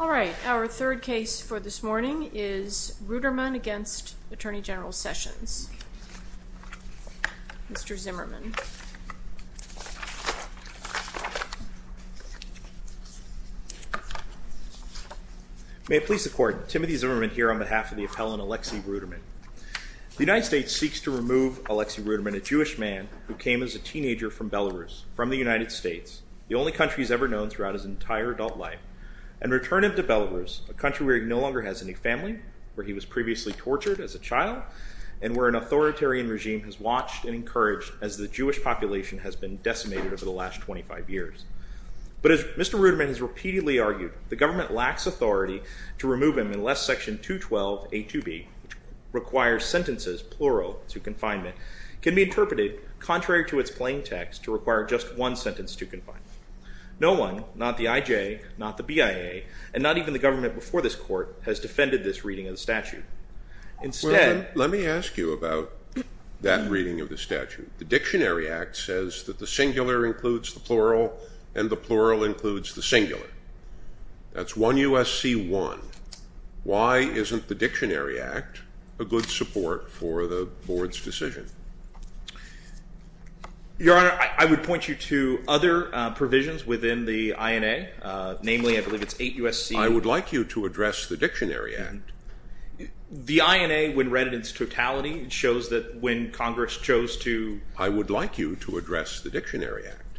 All right, our third case for this morning is Ruderman v. Attorney General Sessions. Mr. Zimmerman. May it please the Court, Timothy Zimmerman here on behalf of the appellant Aleksey Ruderman. The United States seeks to remove Aleksey Ruderman, a Jewish man who came as a teenager from Belarus, from the United States, the only country he's ever known throughout his entire adult life, and return him to Belarus, a country where he no longer has any family, where he was previously tortured as a child, and where an authoritarian regime has watched and encouraged as the Jewish population has been decimated over the last 25 years. But as Mr. Ruderman has repeatedly argued, the government lacks authority to remove him unless Section 212A2B, which requires sentences, plural, to confinement, can be interpreted, contrary to its plain text, to require just one sentence to confinement. No one, not the IJ, not the BIA, and not even the government before this Court, has defended this reading of the statute. Let me ask you about that reading of the statute. The Dictionary Act says that the singular includes the plural, and the plural includes the singular. That's 1 U.S.C. 1. Why isn't the Dictionary Act a good support for the Board's decision? Your Honor, I would point you to other provisions within the INA. Namely, I believe it's 8 U.S.C. I would like you to address the Dictionary Act. The INA, when read in its totality, shows that when Congress chose to... I would like you to address the Dictionary Act.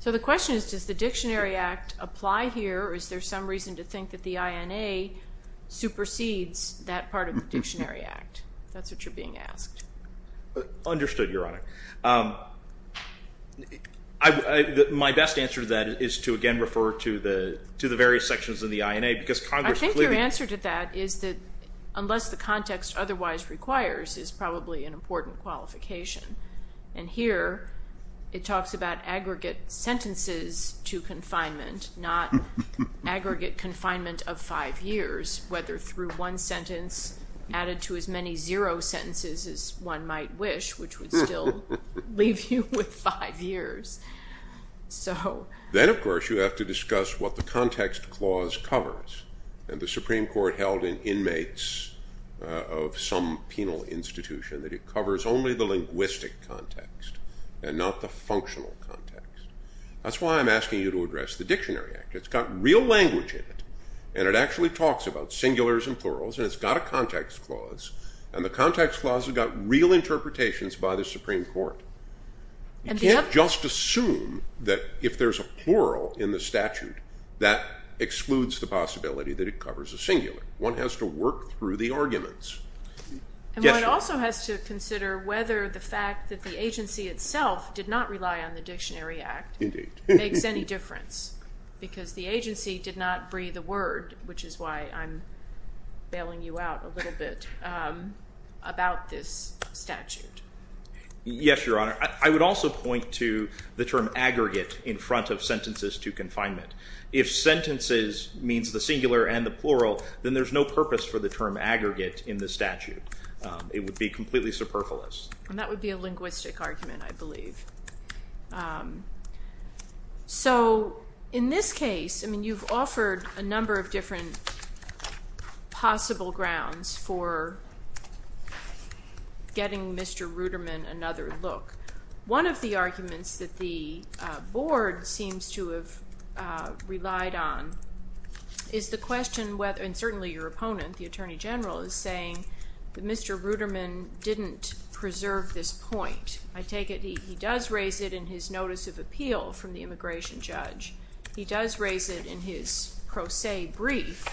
So the question is, does the Dictionary Act apply here, or is there some reason to think that the INA supersedes that part of the Dictionary Act? If that's what you're being asked. Understood, Your Honor. My best answer to that is to, again, refer to the various sections of the INA, because Congress clearly... I think your answer to that is that, unless the context otherwise requires, is probably an important qualification. And here, it talks about aggregate sentences to confinement, not aggregate confinement of 5 years, whether through one sentence added to as many zero sentences as one might wish, which would still leave you with 5 years. Then, of course, you have to discuss what the context clause covers. And the Supreme Court held in inmates of some penal institution that it covers only the linguistic context and not the functional context. That's why I'm asking you to address the Dictionary Act. It's got real language in it, and it actually talks about singulars and plurals, and it's got a context clause, and the context clause has got real interpretations by the Supreme Court. You can't just assume that if there's a plural in the statute, that excludes the possibility that it covers a singular. One has to work through the arguments. And one also has to consider whether the fact that the agency itself did not rely on the Dictionary Act makes any difference, because the agency did not breathe a word, which is why I'm bailing you out a little bit, about this statute. Yes, Your Honor. I would also point to the term aggregate in front of sentences to confinement. If sentences means the singular and the plural, then there's no purpose for the term aggregate in the statute. It would be completely superfluous. And that would be a linguistic argument, I believe. So in this case, I mean, you've offered a number of different possible grounds for getting Mr. Ruderman another look. One of the arguments that the Board seems to have relied on is the question whether, and certainly your opponent, the Attorney General, is saying that Mr. Ruderman didn't preserve this point. I take it he does raise it in his notice of appeal from the immigration judge. He does raise it in his pro se brief,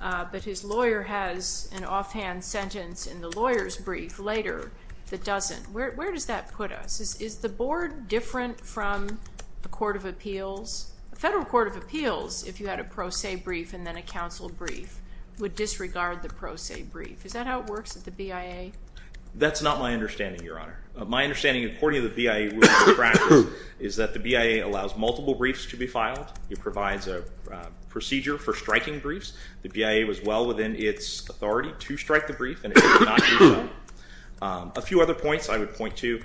but his lawyer has an offhand sentence in the lawyer's brief later that doesn't. Where does that put us? Is the Board different from the Court of Appeals? The Federal Court of Appeals, if you had a pro se brief and then a counsel brief, would disregard the pro se brief. Is that how it works at the BIA? That's not my understanding, Your Honor. My understanding, according to the BIA ruling practice, is that the BIA allows multiple briefs to be filed. It provides a procedure for striking briefs. The BIA was well within its authority to strike the brief, and it did not do so. A few other points I would point to.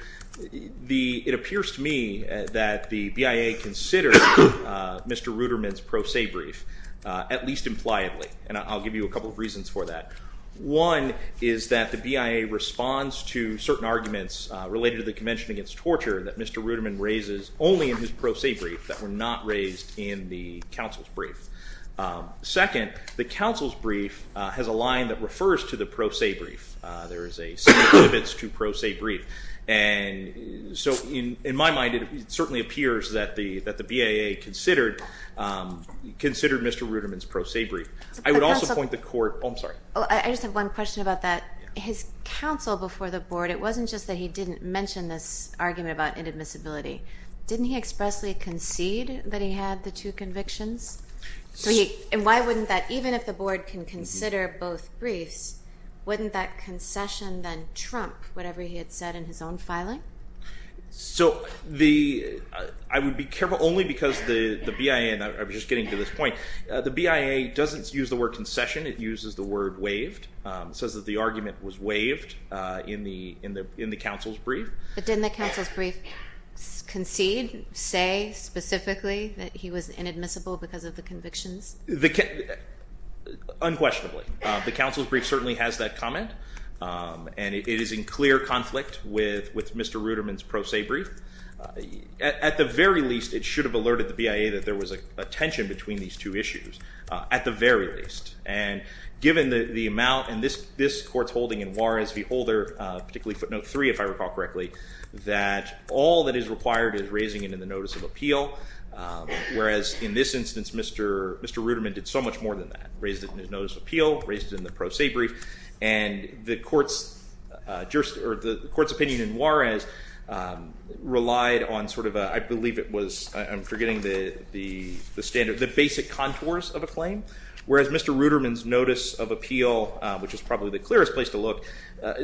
It appears to me that the BIA considered Mr. Ruderman's pro se brief, at least impliedly, and I'll give you a couple of reasons for that. One is that the BIA responds to certain arguments related to the Convention Against Torture that Mr. Ruderman raises only in his pro se brief that were not raised in the counsel's brief. Second, the counsel's brief has a line that refers to the pro se brief. There is a set of limits to pro se brief. And so in my mind, it certainly appears that the BIA considered Mr. Ruderman's pro se brief. I would also point the court – oh, I'm sorry. I just have one question about that. His counsel before the board, it wasn't just that he didn't mention this argument about inadmissibility. Didn't he expressly concede that he had the two convictions? And why wouldn't that – even if the board can consider both briefs, wouldn't that concession then trump whatever he had said in his own filing? So the – I would be careful only because the BIA – and I'm just getting to this point. The BIA doesn't use the word concession. It uses the word waived. It says that the argument was waived in the counsel's brief. But didn't the counsel's brief concede, say specifically that he was inadmissible because of the convictions? Unquestionably. The counsel's brief certainly has that comment, and it is in clear conflict with Mr. Ruderman's pro se brief. At the very least, it should have alerted the BIA that there was a tension between these two issues, at the very least. And given the amount – and this court's holding in Juarez v. Holder, particularly footnote 3, if I recall correctly, that all that is required is raising it in the notice of appeal, whereas in this instance, Mr. Ruderman did so much more than that. He raised it in the appeal, raised it in the pro se brief, and the court's opinion in Juarez relied on sort of a – I believe it was – I'm forgetting the standard – the basic contours of a claim, whereas Mr. Ruderman's notice of appeal, which is probably the clearest place to look,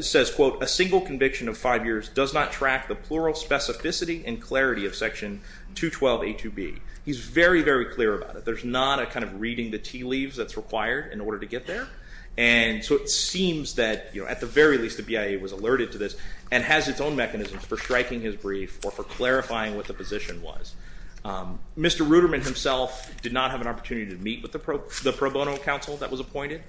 says, quote, a single conviction of five years does not track the plural specificity and clarity of section 212A2B. He's very, very clear about it. There's not a kind of reading the tea leaves that's required in order to get there. And so it seems that, you know, at the very least, the BIA was alerted to this and has its own mechanisms for striking his brief or for clarifying what the position was. Mr. Ruderman himself did not have an opportunity to meet with the pro bono counsel that was appointed.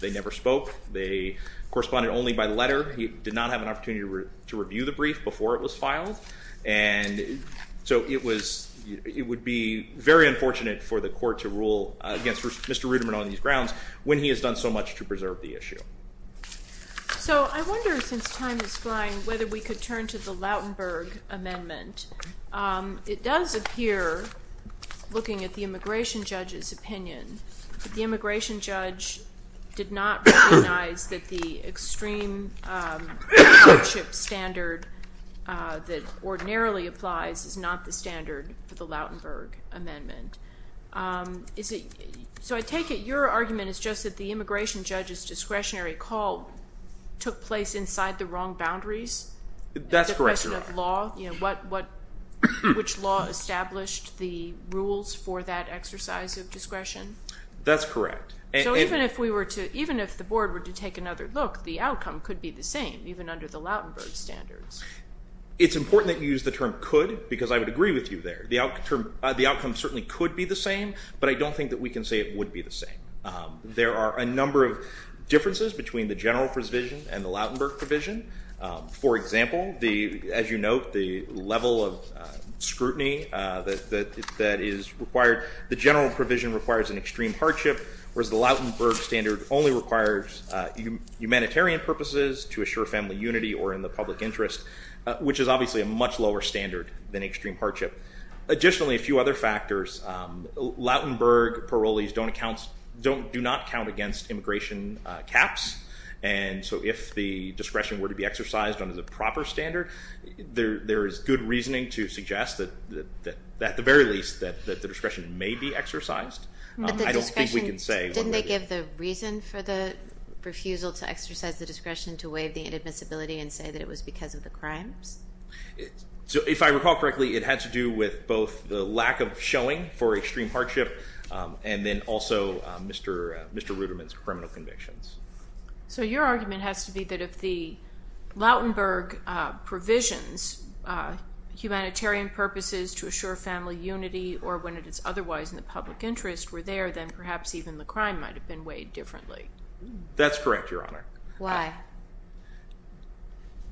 They never spoke. They corresponded only by letter. He did not have an opportunity to review the brief before it was filed. And so it was – it would be very unfortunate for the court to rule against Mr. Ruderman on these grounds when he has done so much to preserve the issue. So I wonder, since time is flying, whether we could turn to the Lautenberg Amendment. It does appear, looking at the immigration judge's opinion, that the immigration judge did not recognize that the extreme censorship standard that ordinarily applies is not the standard for the Lautenberg Amendment. So I take it your argument is just that the immigration judge's discretionary call took place inside the wrong boundaries? That's correct, Your Honor. Which law established the rules for that exercise of discretion? That's correct. So even if the board were to take another look, the outcome could be the same, even under the Lautenberg standards? It's important that you use the term could because I would agree with you there. The outcome certainly could be the same, but I don't think that we can say it would be the same. There are a number of differences between the general provision and the Lautenberg provision. For example, as you note, the level of scrutiny that is required. The general provision requires an extreme hardship, whereas the Lautenberg standard only requires humanitarian purposes to assure family unity or in the public interest, which is obviously a much lower standard than extreme hardship. Additionally, a few other factors. Lautenberg parolees do not count against immigration caps. And so if the discretion were to be exercised under the proper standard, there is good reasoning to suggest that at the very least that the discretion may be exercised. But the discretion, didn't they give the reason for the refusal to exercise the discretion to waive the inadmissibility and say that it was because of the crimes? If I recall correctly, it had to do with both the lack of showing for extreme hardship and then also Mr. Ruderman's criminal convictions. So your argument has to be that if the Lautenberg provisions, humanitarian purposes to assure family unity or when it is otherwise in the public interest were there, then perhaps even the crime might have been weighed differently. That's correct, Your Honor. Why?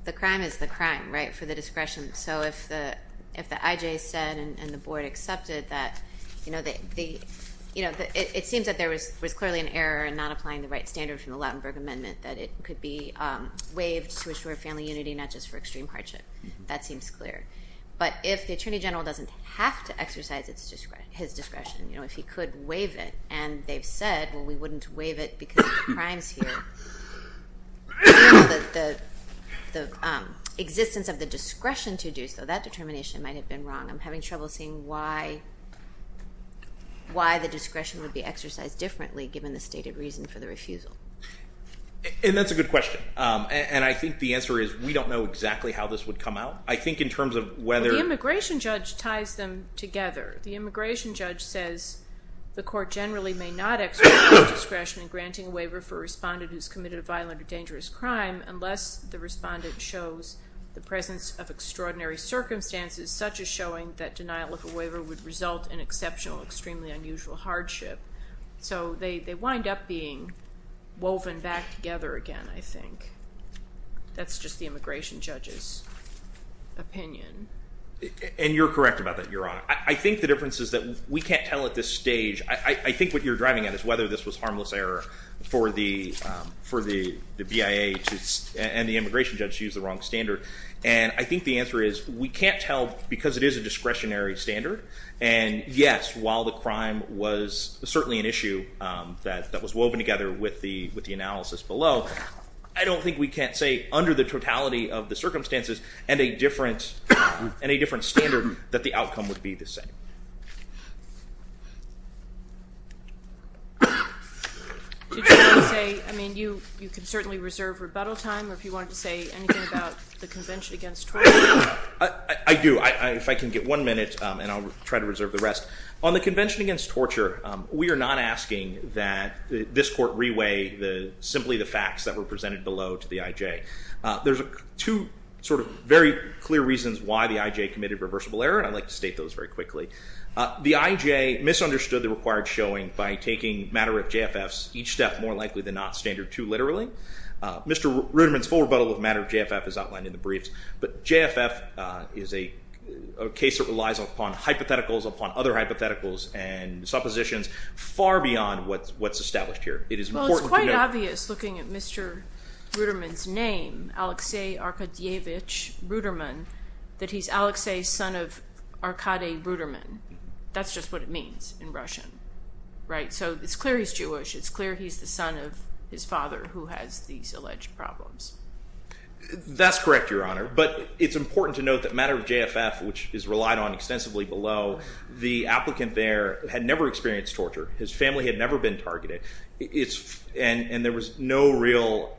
The crime is the crime, right, for the discretion. So if the IJ said and the board accepted that, you know, it seems that there was clearly an error in not applying the right standard from the Lautenberg amendment that it could be waived to assure family unity, not just for extreme hardship. That seems clear. But if the Attorney General doesn't have to exercise his discretion, you know, if he could waive it, and they've said, well, we wouldn't waive it because of the crimes here, the existence of the discretion to do so, that determination might have been wrong. I'm having trouble seeing why the discretion would be exercised differently given the stated reason for the refusal. And that's a good question. And I think the answer is we don't know exactly how this would come out. I think in terms of whether— Well, the immigration judge ties them together. The immigration judge says the court generally may not exercise discretion in granting a waiver for a respondent who's committed a violent or dangerous crime unless the respondent shows the presence of extraordinary circumstances, such as showing that denial of a waiver would result in exceptional, extremely unusual hardship. So they wind up being woven back together again, I think. That's just the immigration judge's opinion. And you're correct about that, Your Honor. I think the difference is that we can't tell at this stage. I think what you're driving at is whether this was harmless error for the BIA and the immigration judge to use the wrong standard. And I think the answer is we can't tell because it is a discretionary standard. And, yes, while the crime was certainly an issue that was woven together with the analysis below, I don't think we can say under the totality of the circumstances and a different standard that the outcome would be the same. Did you want to say, I mean, you can certainly reserve rebuttal time, or if you wanted to say anything about the Convention Against Torture? I do. If I can get one minute and I'll try to reserve the rest. On the Convention Against Torture, we are not asking that this court reweigh simply the facts that were presented below to the IJ. There's two sort of very clear reasons why the IJ committed reversible error, and I'd like to state those very quickly. The IJ misunderstood the required showing by taking matter-of-JFFs, each step more likely than not, standard two literally. Mr. Ruderman's full rebuttal of matter-of-JFF is outlined in the briefs. But JFF is a case that relies upon hypotheticals, upon other hypotheticals and suppositions far beyond what's established here. Well, it's quite obvious looking at Mr. Ruderman's name, Alexei Arkadyevich Ruderman, that he's Alexei's son of Arkady Ruderman. That's just what it means in Russian, right? So it's clear he's Jewish. It's clear he's the son of his father who has these alleged problems. That's correct, Your Honor. But it's important to note that matter-of-JFF, which is relied on extensively below, the applicant there had never experienced torture. His family had never been targeted. And there was no real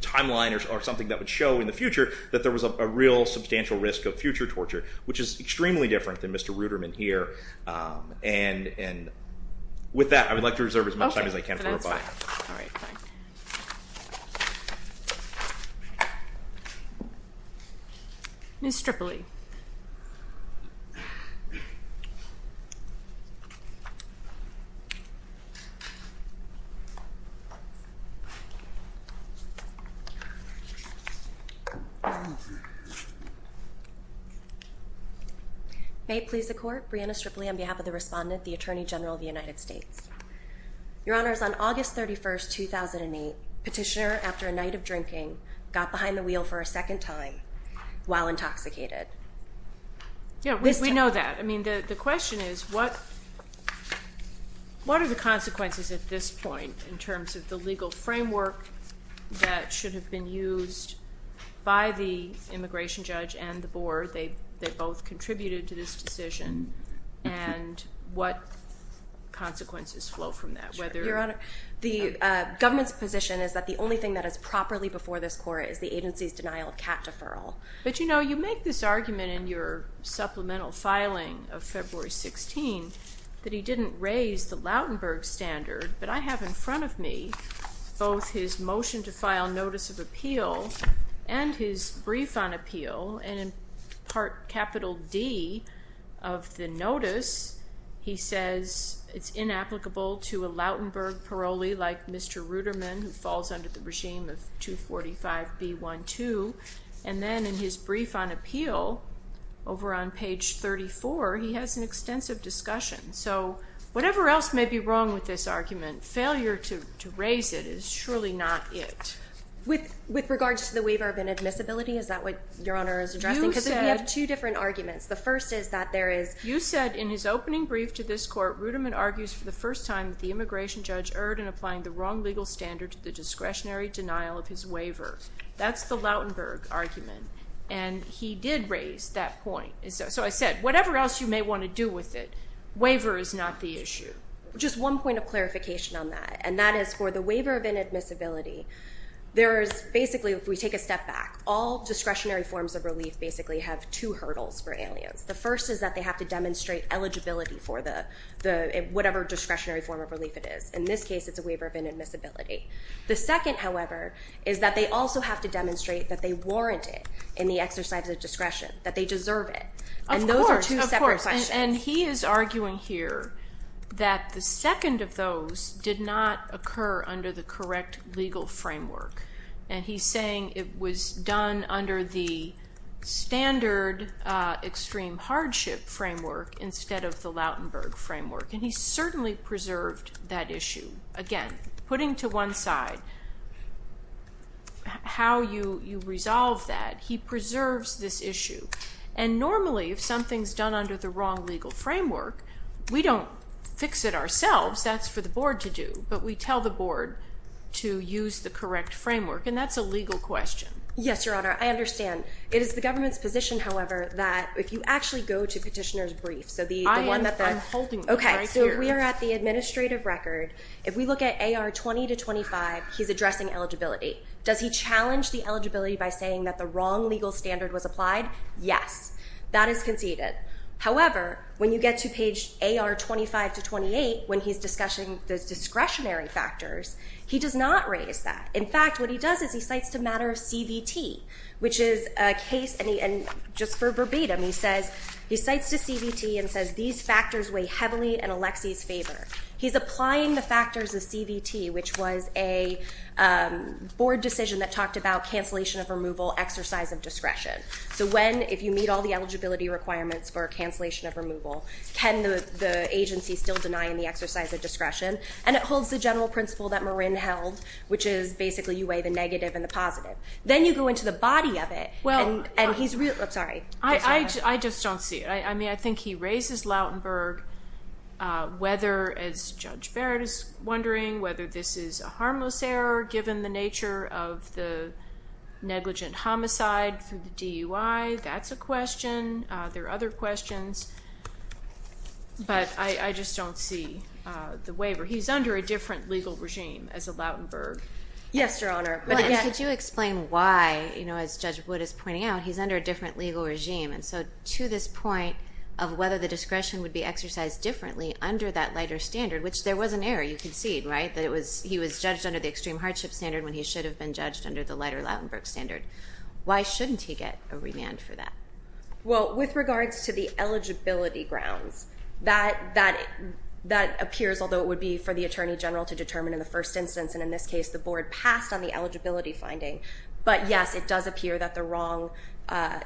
timeline or something that would show in the future that there was a real substantial risk of future torture, which is extremely different than Mr. Ruderman here. And with that, I would like to reserve as much time as I can for rebuttal. All right. Ms. Strippley. May it please the Court, Brianna Strippley on behalf of the Respondent, the Attorney General of the United States. Your Honors, on August 31, 2008, Petitioner, after a night of drinking, got behind the wheel for a second time while intoxicated. Yeah, we know that. I mean, the question is, what did he do? What are the consequences at this point in terms of the legal framework that should have been used by the immigration judge and the board? They both contributed to this decision. And what consequences flow from that? Your Honor, the government's position is that the only thing that is properly before this Court is the agency's denial of cat deferral. But, you know, you make this argument in your supplemental filing of February 16 that he didn't raise the Lautenberg standard. But I have in front of me both his motion to file notice of appeal and his brief on appeal. And in Part Capital D of the notice, he says it's inapplicable to a Lautenberg parolee like Mr. Ruderman who falls under the regime of 245B12. And then in his brief on appeal, over on page 34, he has an extensive discussion. So whatever else may be wrong with this argument, failure to raise it is surely not it. With regards to the waiver of inadmissibility, is that what Your Honor is addressing? Because we have two different arguments. The first is that there is – You said, in his opening brief to this Court, Ruderman argues for the first time that the immigration judge erred in applying the wrong legal standard to the discretionary denial of his waiver. That's the Lautenberg argument. And he did raise that point. So I said, whatever else you may want to do with it, waiver is not the issue. Just one point of clarification on that, and that is for the waiver of inadmissibility, there is – basically, if we take a step back, all discretionary forms of relief basically have two hurdles for aliens. The first is that they have to demonstrate eligibility for whatever discretionary form of relief it is. In this case, it's a waiver of inadmissibility. The second, however, is that they also have to demonstrate that they warrant it in the exercise of discretion, that they deserve it. Of course. And those are two separate questions. And he is arguing here that the second of those did not occur under the correct legal framework. And he's saying it was done under the standard extreme hardship framework instead of the Lautenberg framework. And he certainly preserved that issue. Again, putting to one side how you resolve that, he preserves this issue. And normally, if something's done under the wrong legal framework, we don't fix it ourselves. That's for the board to do. But we tell the board to use the correct framework, and that's a legal question. Yes, Your Honor. I understand. It is the government's position, however, that if you actually go to petitioner's brief, so the one that the – Okay, so we are at the administrative record. If we look at AR 20 to 25, he's addressing eligibility. Does he challenge the eligibility by saying that the wrong legal standard was applied? Yes. That is conceded. However, when you get to page AR 25 to 28, when he's discussing the discretionary factors, he does not raise that. In fact, what he does is he cites the matter of CVT, which is a case, and just for verbatim, he says – he cites the CVT and says these factors weigh heavily in Alexie's favor. He's applying the factors of CVT, which was a board decision that talked about cancellation of removal, exercise of discretion. So when, if you meet all the eligibility requirements for cancellation of removal, can the agency still deny the exercise of discretion? And it holds the general principle that Marin held, which is basically you weigh the negative and the positive. Then you go into the body of it, and he's – I'm sorry. I just don't see it. I mean, I think he raises Lautenberg, whether, as Judge Barrett is wondering, whether this is a harmless error given the nature of the negligent homicide through the DUI. That's a question. There are other questions. But I just don't see the waiver. He's under a different legal regime as a Lautenberg. Yes, Your Honor. Could you explain why, as Judge Wood is pointing out, he's under a different legal regime? And so to this point of whether the discretion would be exercised differently under that lighter standard, which there was an error, you concede, right, that he was judged under the extreme hardship standard when he should have been judged under the lighter Lautenberg standard. Why shouldn't he get a remand for that? Well, with regards to the eligibility grounds, that appears, although it would be for the attorney general to determine in the first instance, and in this case the Board passed on the eligibility finding, but, yes, it does appear that the wrong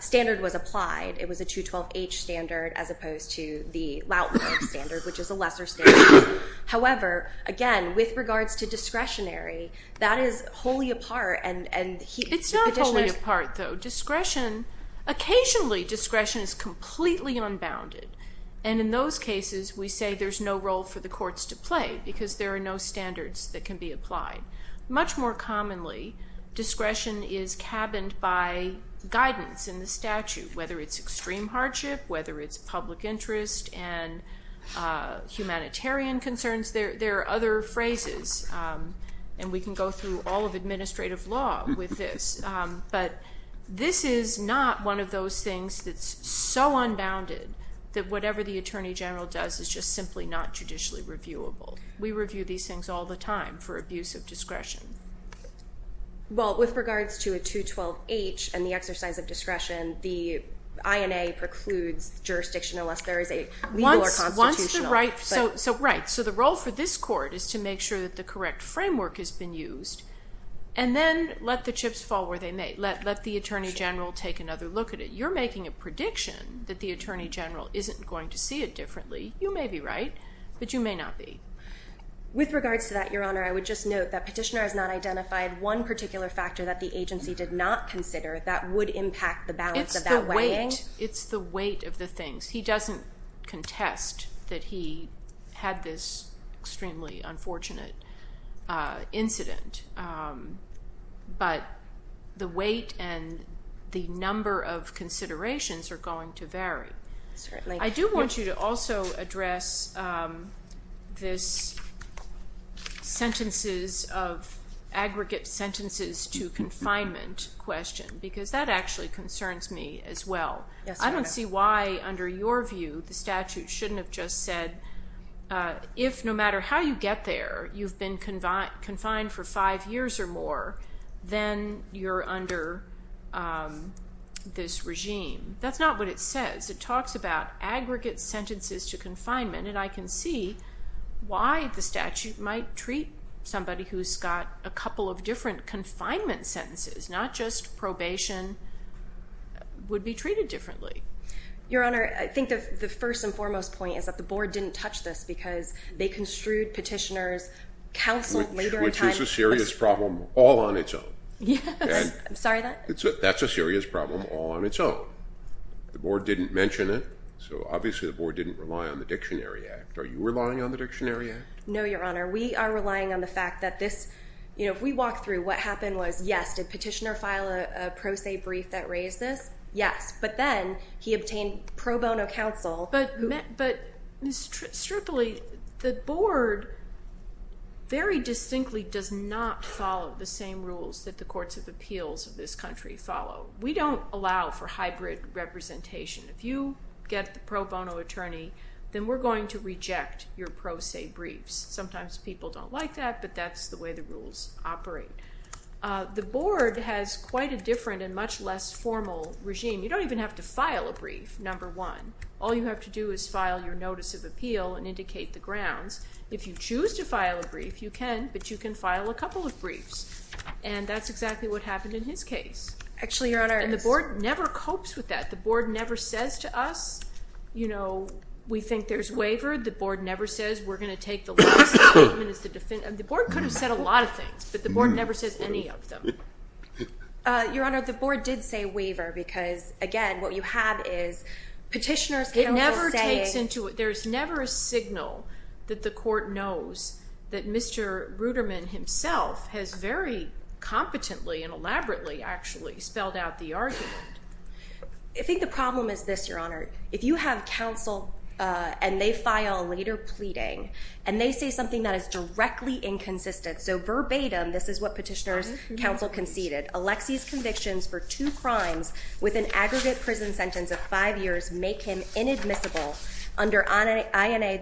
standard was applied. It was a 212H standard as opposed to the Lautenberg standard, which is a lesser standard. However, again, with regards to discretionary, that is wholly apart. It's not wholly apart, though. Occasionally discretion is completely unbounded, and in those cases we say there's no role for the courts to play because there are no standards that can be applied. Much more commonly, discretion is cabined by guidance in the statute, whether it's extreme hardship, whether it's public interest and humanitarian concerns. There are other phrases, and we can go through all of administrative law with this, but this is not one of those things that's so unbounded that whatever the attorney general does is just simply not judicially reviewable. We review these things all the time for abuse of discretion. Well, with regards to a 212H and the exercise of discretion, the INA precludes jurisdiction unless there is a legal or constitutional. Right. So the role for this court is to make sure that the correct framework has been used and then let the chips fall where they may. Let the attorney general take another look at it. If you're making a prediction that the attorney general isn't going to see it differently, you may be right, but you may not be. With regards to that, Your Honor, I would just note that Petitioner has not identified one particular factor that the agency did not consider that would impact the balance of that weighing. It's the weight. It's the weight of the things. He doesn't contest that he had this extremely unfortunate incident, but the weight and the number of considerations are going to vary. I do want you to also address this aggregate sentences to confinement question because that actually concerns me as well. I don't see why, under your view, the statute shouldn't have just said, if no matter how you get there, you've been confined for five years or more, then you're under this regime. That's not what it says. It talks about aggregate sentences to confinement, and I can see why the statute might treat somebody who's got a couple of different confinement sentences, not just probation, would be treated differently. Your Honor, I think the first and foremost point is that the Board didn't touch this because they construed Petitioner's counsel later in time. Which is a serious problem all on its own. Yes. I'm sorry, that? That's a serious problem all on its own. The Board didn't mention it, so obviously the Board didn't rely on the Dictionary Act. Are you relying on the Dictionary Act? No, Your Honor. We are relying on the fact that if we walk through what happened was, yes, did Petitioner file a pro se brief that raised this? Yes. But then he obtained pro bono counsel. But, Ms. Strippley, the Board very distinctly does not follow the same rules that the courts of appeals of this country follow. We don't allow for hybrid representation. If you get the pro bono attorney, then we're going to reject your pro se briefs. Sometimes people don't like that, but that's the way the rules operate. The Board has quite a different and much less formal regime. You don't even have to file a brief, number one. All you have to do is file your notice of appeal and indicate the grounds. If you choose to file a brief, you can, but you can file a couple of briefs. And that's exactly what happened in his case. Actually, Your Honor. And the Board never copes with that. The Board never says to us, you know, we think there's waiver. The Board never says we're going to take the last statement as the defense. The Board could have said a lot of things, but the Board never says any of them. Your Honor, the Board did say waiver because, again, what you have is petitioners. It never takes into it. There's never a signal that the court knows that Mr. Ruderman himself has very competently and elaborately actually spelled out the argument. I think the problem is this, Your Honor. If you have counsel and they file a later pleading and they say something that is directly inconsistent, so verbatim, this is what petitioners counsel conceded, Alexie's convictions for two crimes with an aggregate prison sentence of five years make him inadmissible under INA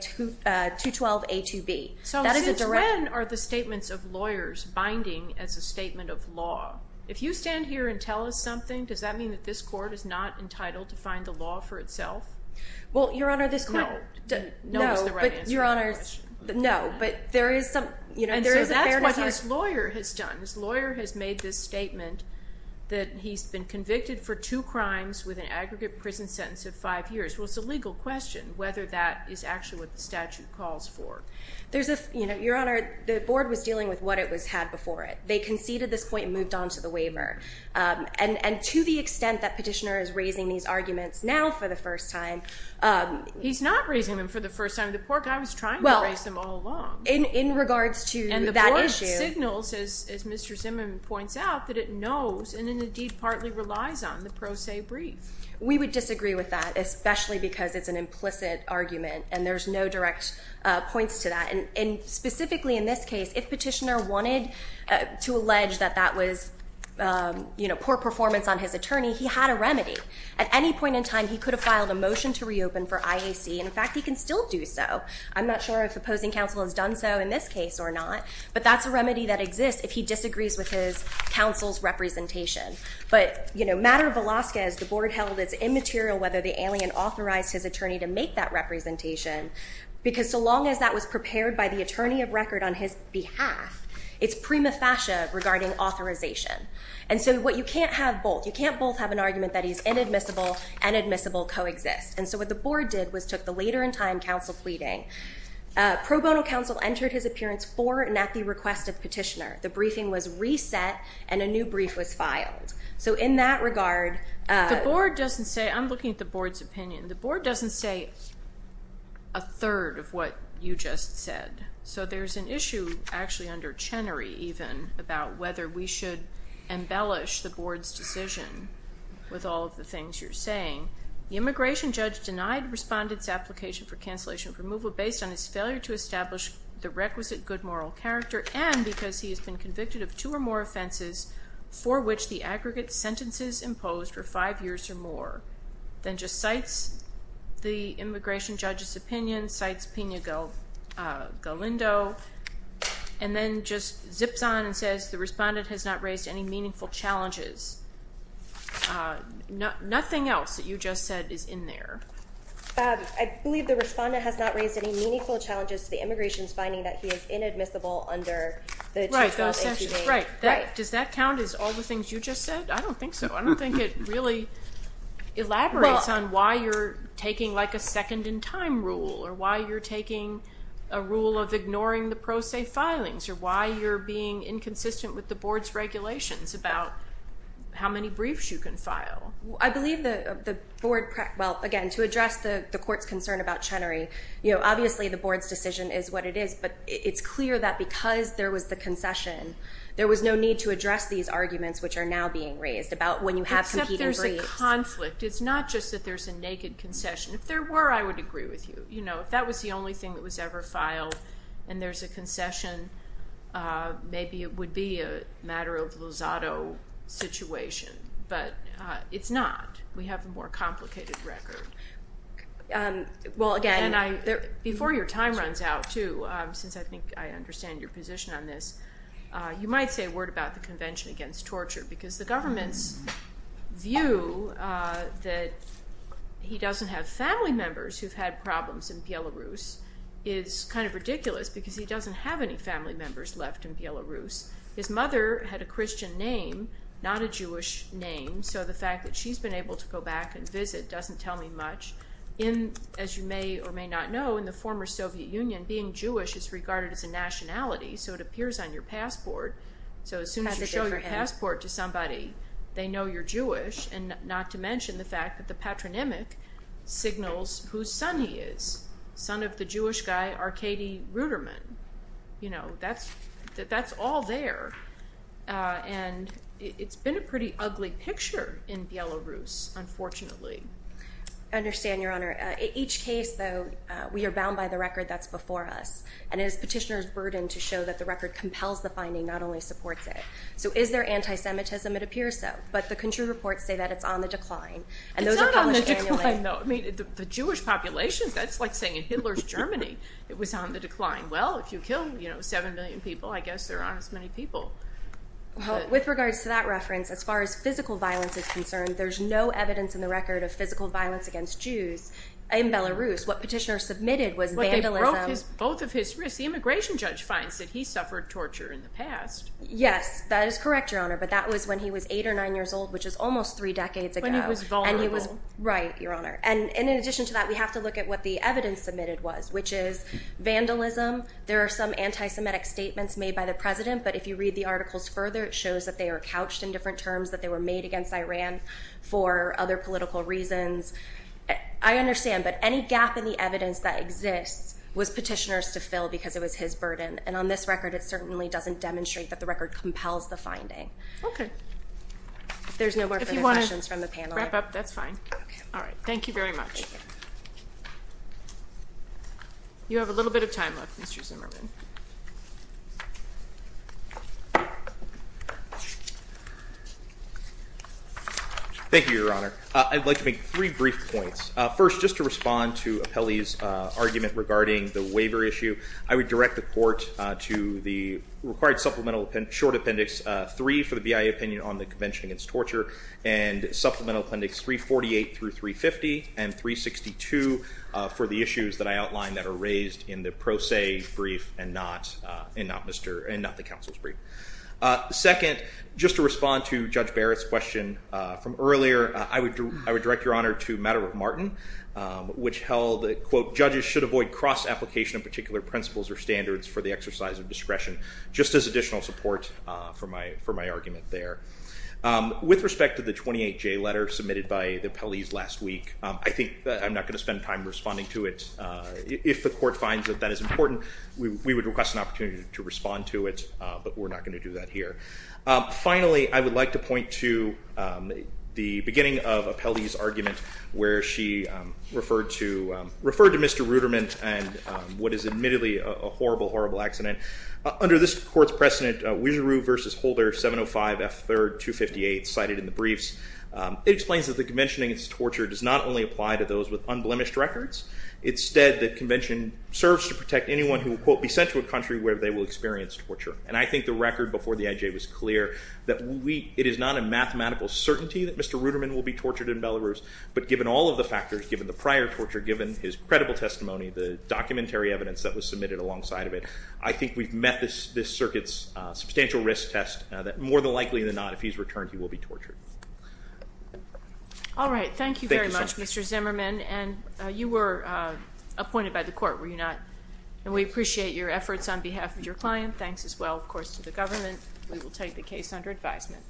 212A2B. So since when are the statements of lawyers binding as a statement of law? If you stand here and tell us something, does that mean that this court is not entitled to find the law for itself? Well, Your Honor, this court— No. No, but Your Honor, no. But there is some— And so that's what his lawyer has done. His lawyer has made this statement that he's been convicted for two crimes with an aggregate prison sentence of five years. Well, it's a legal question whether that is actually what the statute calls for. Your Honor, the Board was dealing with what it had before it. They conceded this point and moved on to the waiver. And to the extent that petitioner is raising these arguments now for the first time— He's not raising them for the first time. The poor guy was trying to raise them all along. In regards to that issue— And the Board signals, as Mr. Zimmerman points out, that it knows and indeed partly relies on the pro se brief. We would disagree with that, especially because it's an implicit argument and there's no direct points to that. And specifically in this case, if petitioner wanted to allege that that was poor performance on his attorney, he had a remedy. At any point in time, he could have filed a motion to reopen for IAC. In fact, he can still do so. I'm not sure if opposing counsel has done so in this case or not, but that's a remedy that exists if he disagrees with his counsel's representation. But matter of Alaska, as the Board held, it's immaterial whether the alien authorized his attorney to make that representation because so long as that was prepared by the attorney of record on his behalf, it's prima facie regarding authorization. And so you can't have both. You can't both have an argument that he's inadmissible and admissible coexist. And so what the Board did was took the later in time counsel pleading. Pro bono counsel entered his appearance for and at the request of petitioner. The briefing was reset and a new brief was filed. So in that regard... The Board doesn't say, I'm looking at the Board's opinion, the Board doesn't say a third of what you just said. So there's an issue actually under Chenery even about whether we should The immigration judge denied respondent's application for cancellation of removal based on his failure to establish the requisite good moral character and because he has been convicted of two or more offenses for which the aggregate sentences imposed were five years or more. Then just cites the immigration judge's opinion, cites Pena Galindo, and then just zips on and says the respondent has not raised any meaningful challenges. Nothing else that you just said is in there. I believe the respondent has not raised any meaningful challenges to the immigration's finding that he is inadmissible under the 212. Does that count as all the things you just said? I don't think so. I don't think it really elaborates on why you're taking like a second in time rule or why you're taking a rule of ignoring the pro se filings or why you're being inconsistent with the Board's regulations about how many briefs you can file. I believe the Board, well, again, to address the Court's concern about Chenery, obviously the Board's decision is what it is, but it's clear that because there was the concession, there was no need to address these arguments which are now being raised about when you have competing briefs. Except there's a conflict. It's not just that there's a naked concession. If there were, I would agree with you. If that was the only thing that was ever filed and there's a concession, maybe it would be a matter of Lozado situation. But it's not. We have a more complicated record. Well, again. Before your time runs out too, since I think I understand your position on this, you might say a word about the Convention Against Torture because the government's view that he doesn't have family members who've had problems in Belarus is kind of ridiculous because he doesn't have any family members left in Belarus. His mother had a Christian name, not a Jewish name, so the fact that she's been able to go back and visit doesn't tell me much. As you may or may not know, in the former Soviet Union, being Jewish is regarded as a nationality, so it appears on your passport. So as soon as you show your passport to somebody, they know you're Jewish, and not to mention the fact that the patronymic signals whose son he is, son of the Jewish guy Arkady Ruderman. You know, that's all there, and it's been a pretty ugly picture in Belarus, unfortunately. I understand, Your Honor. Each case, though, we are bound by the record that's before us, and it is petitioner's burden to show that the record compels the finding, not only supports it. So is there anti-Semitism? It appears so. But the country reports say that it's on the decline. It's not on the decline, though. I mean, the Jewish population, that's like saying in Hitler's Germany, it was on the decline. Well, if you kill 7 million people, I guess there aren't as many people. With regards to that reference, as far as physical violence is concerned, there's no evidence in the record of physical violence against Jews in Belarus. What petitioner submitted was vandalism. Well, they broke both of his wrists. The immigration judge finds that he suffered torture in the past. Yes, that is correct, Your Honor, but that was when he was 8 or 9 years old, which is almost 3 decades ago. And he was vulnerable. Right, Your Honor. And in addition to that, we have to look at what the evidence submitted was, which is vandalism. There are some anti-Semitic statements made by the President, but if you read the articles further, it shows that they are couched in different terms, that they were made against Iran for other political reasons. I understand, but any gap in the evidence that exists was petitioner's to fill because it was his burden, and on this record, it certainly doesn't demonstrate that the record compels the finding. Okay. If there's no more further questions from the panel. If you want to wrap up, that's fine. Okay. All right. Thank you very much. You have a little bit of time left, Mr. Zimmerman. Thank you, Your Honor. I'd like to make three brief points. First, just to respond to Apelli's argument regarding the waiver issue, I would direct the Court to the required supplemental short appendix, three for the BIA opinion on the Convention Against Torture, and supplemental appendix 348 through 350, and 362 for the issues that I outlined that are raised in the pro se brief and not the counsel's brief. Second, just to respond to Judge Barrett's question from earlier, I would direct Your Honor to Matter of Martin, which held that, quote, judges should avoid cross-application of particular principles or standards for the exercise of discretion, just as additional support for my argument there. With respect to the 28J letter submitted by Apelli's last week, I think that I'm not going to spend time responding to it. If the Court finds that that is important, we would request an opportunity to respond to it, but we're not going to do that here. Finally, I would like to point to the beginning of Apelli's argument where she referred to Mr. Ruderman and what is admittedly a horrible, horrible accident. Under this Court's precedent, Wieseru v. Holder, 705 F. 3rd, 258, cited in the briefs, it explains that the convention against torture does not only apply to those with unblemished records. Instead, the convention serves to protect anyone who will, quote, be sent to a country where they will experience torture. And I think the record before the IJ was clear that it is not a mathematical certainty that Mr. Ruderman will be tortured in Belarus, but given all of the factors, given the prior torture, given his credible testimony, the documentary evidence that was submitted alongside of it, I think we've met this circuit's substantial risk test that more than likely than not, if he's returned, he will be tortured. All right. Thank you very much, Mr. Zimmerman. And you were appointed by the Court, were you not? And we appreciate your efforts on behalf of your client. Thanks as well, of course, to the government. We will take the case under advisement.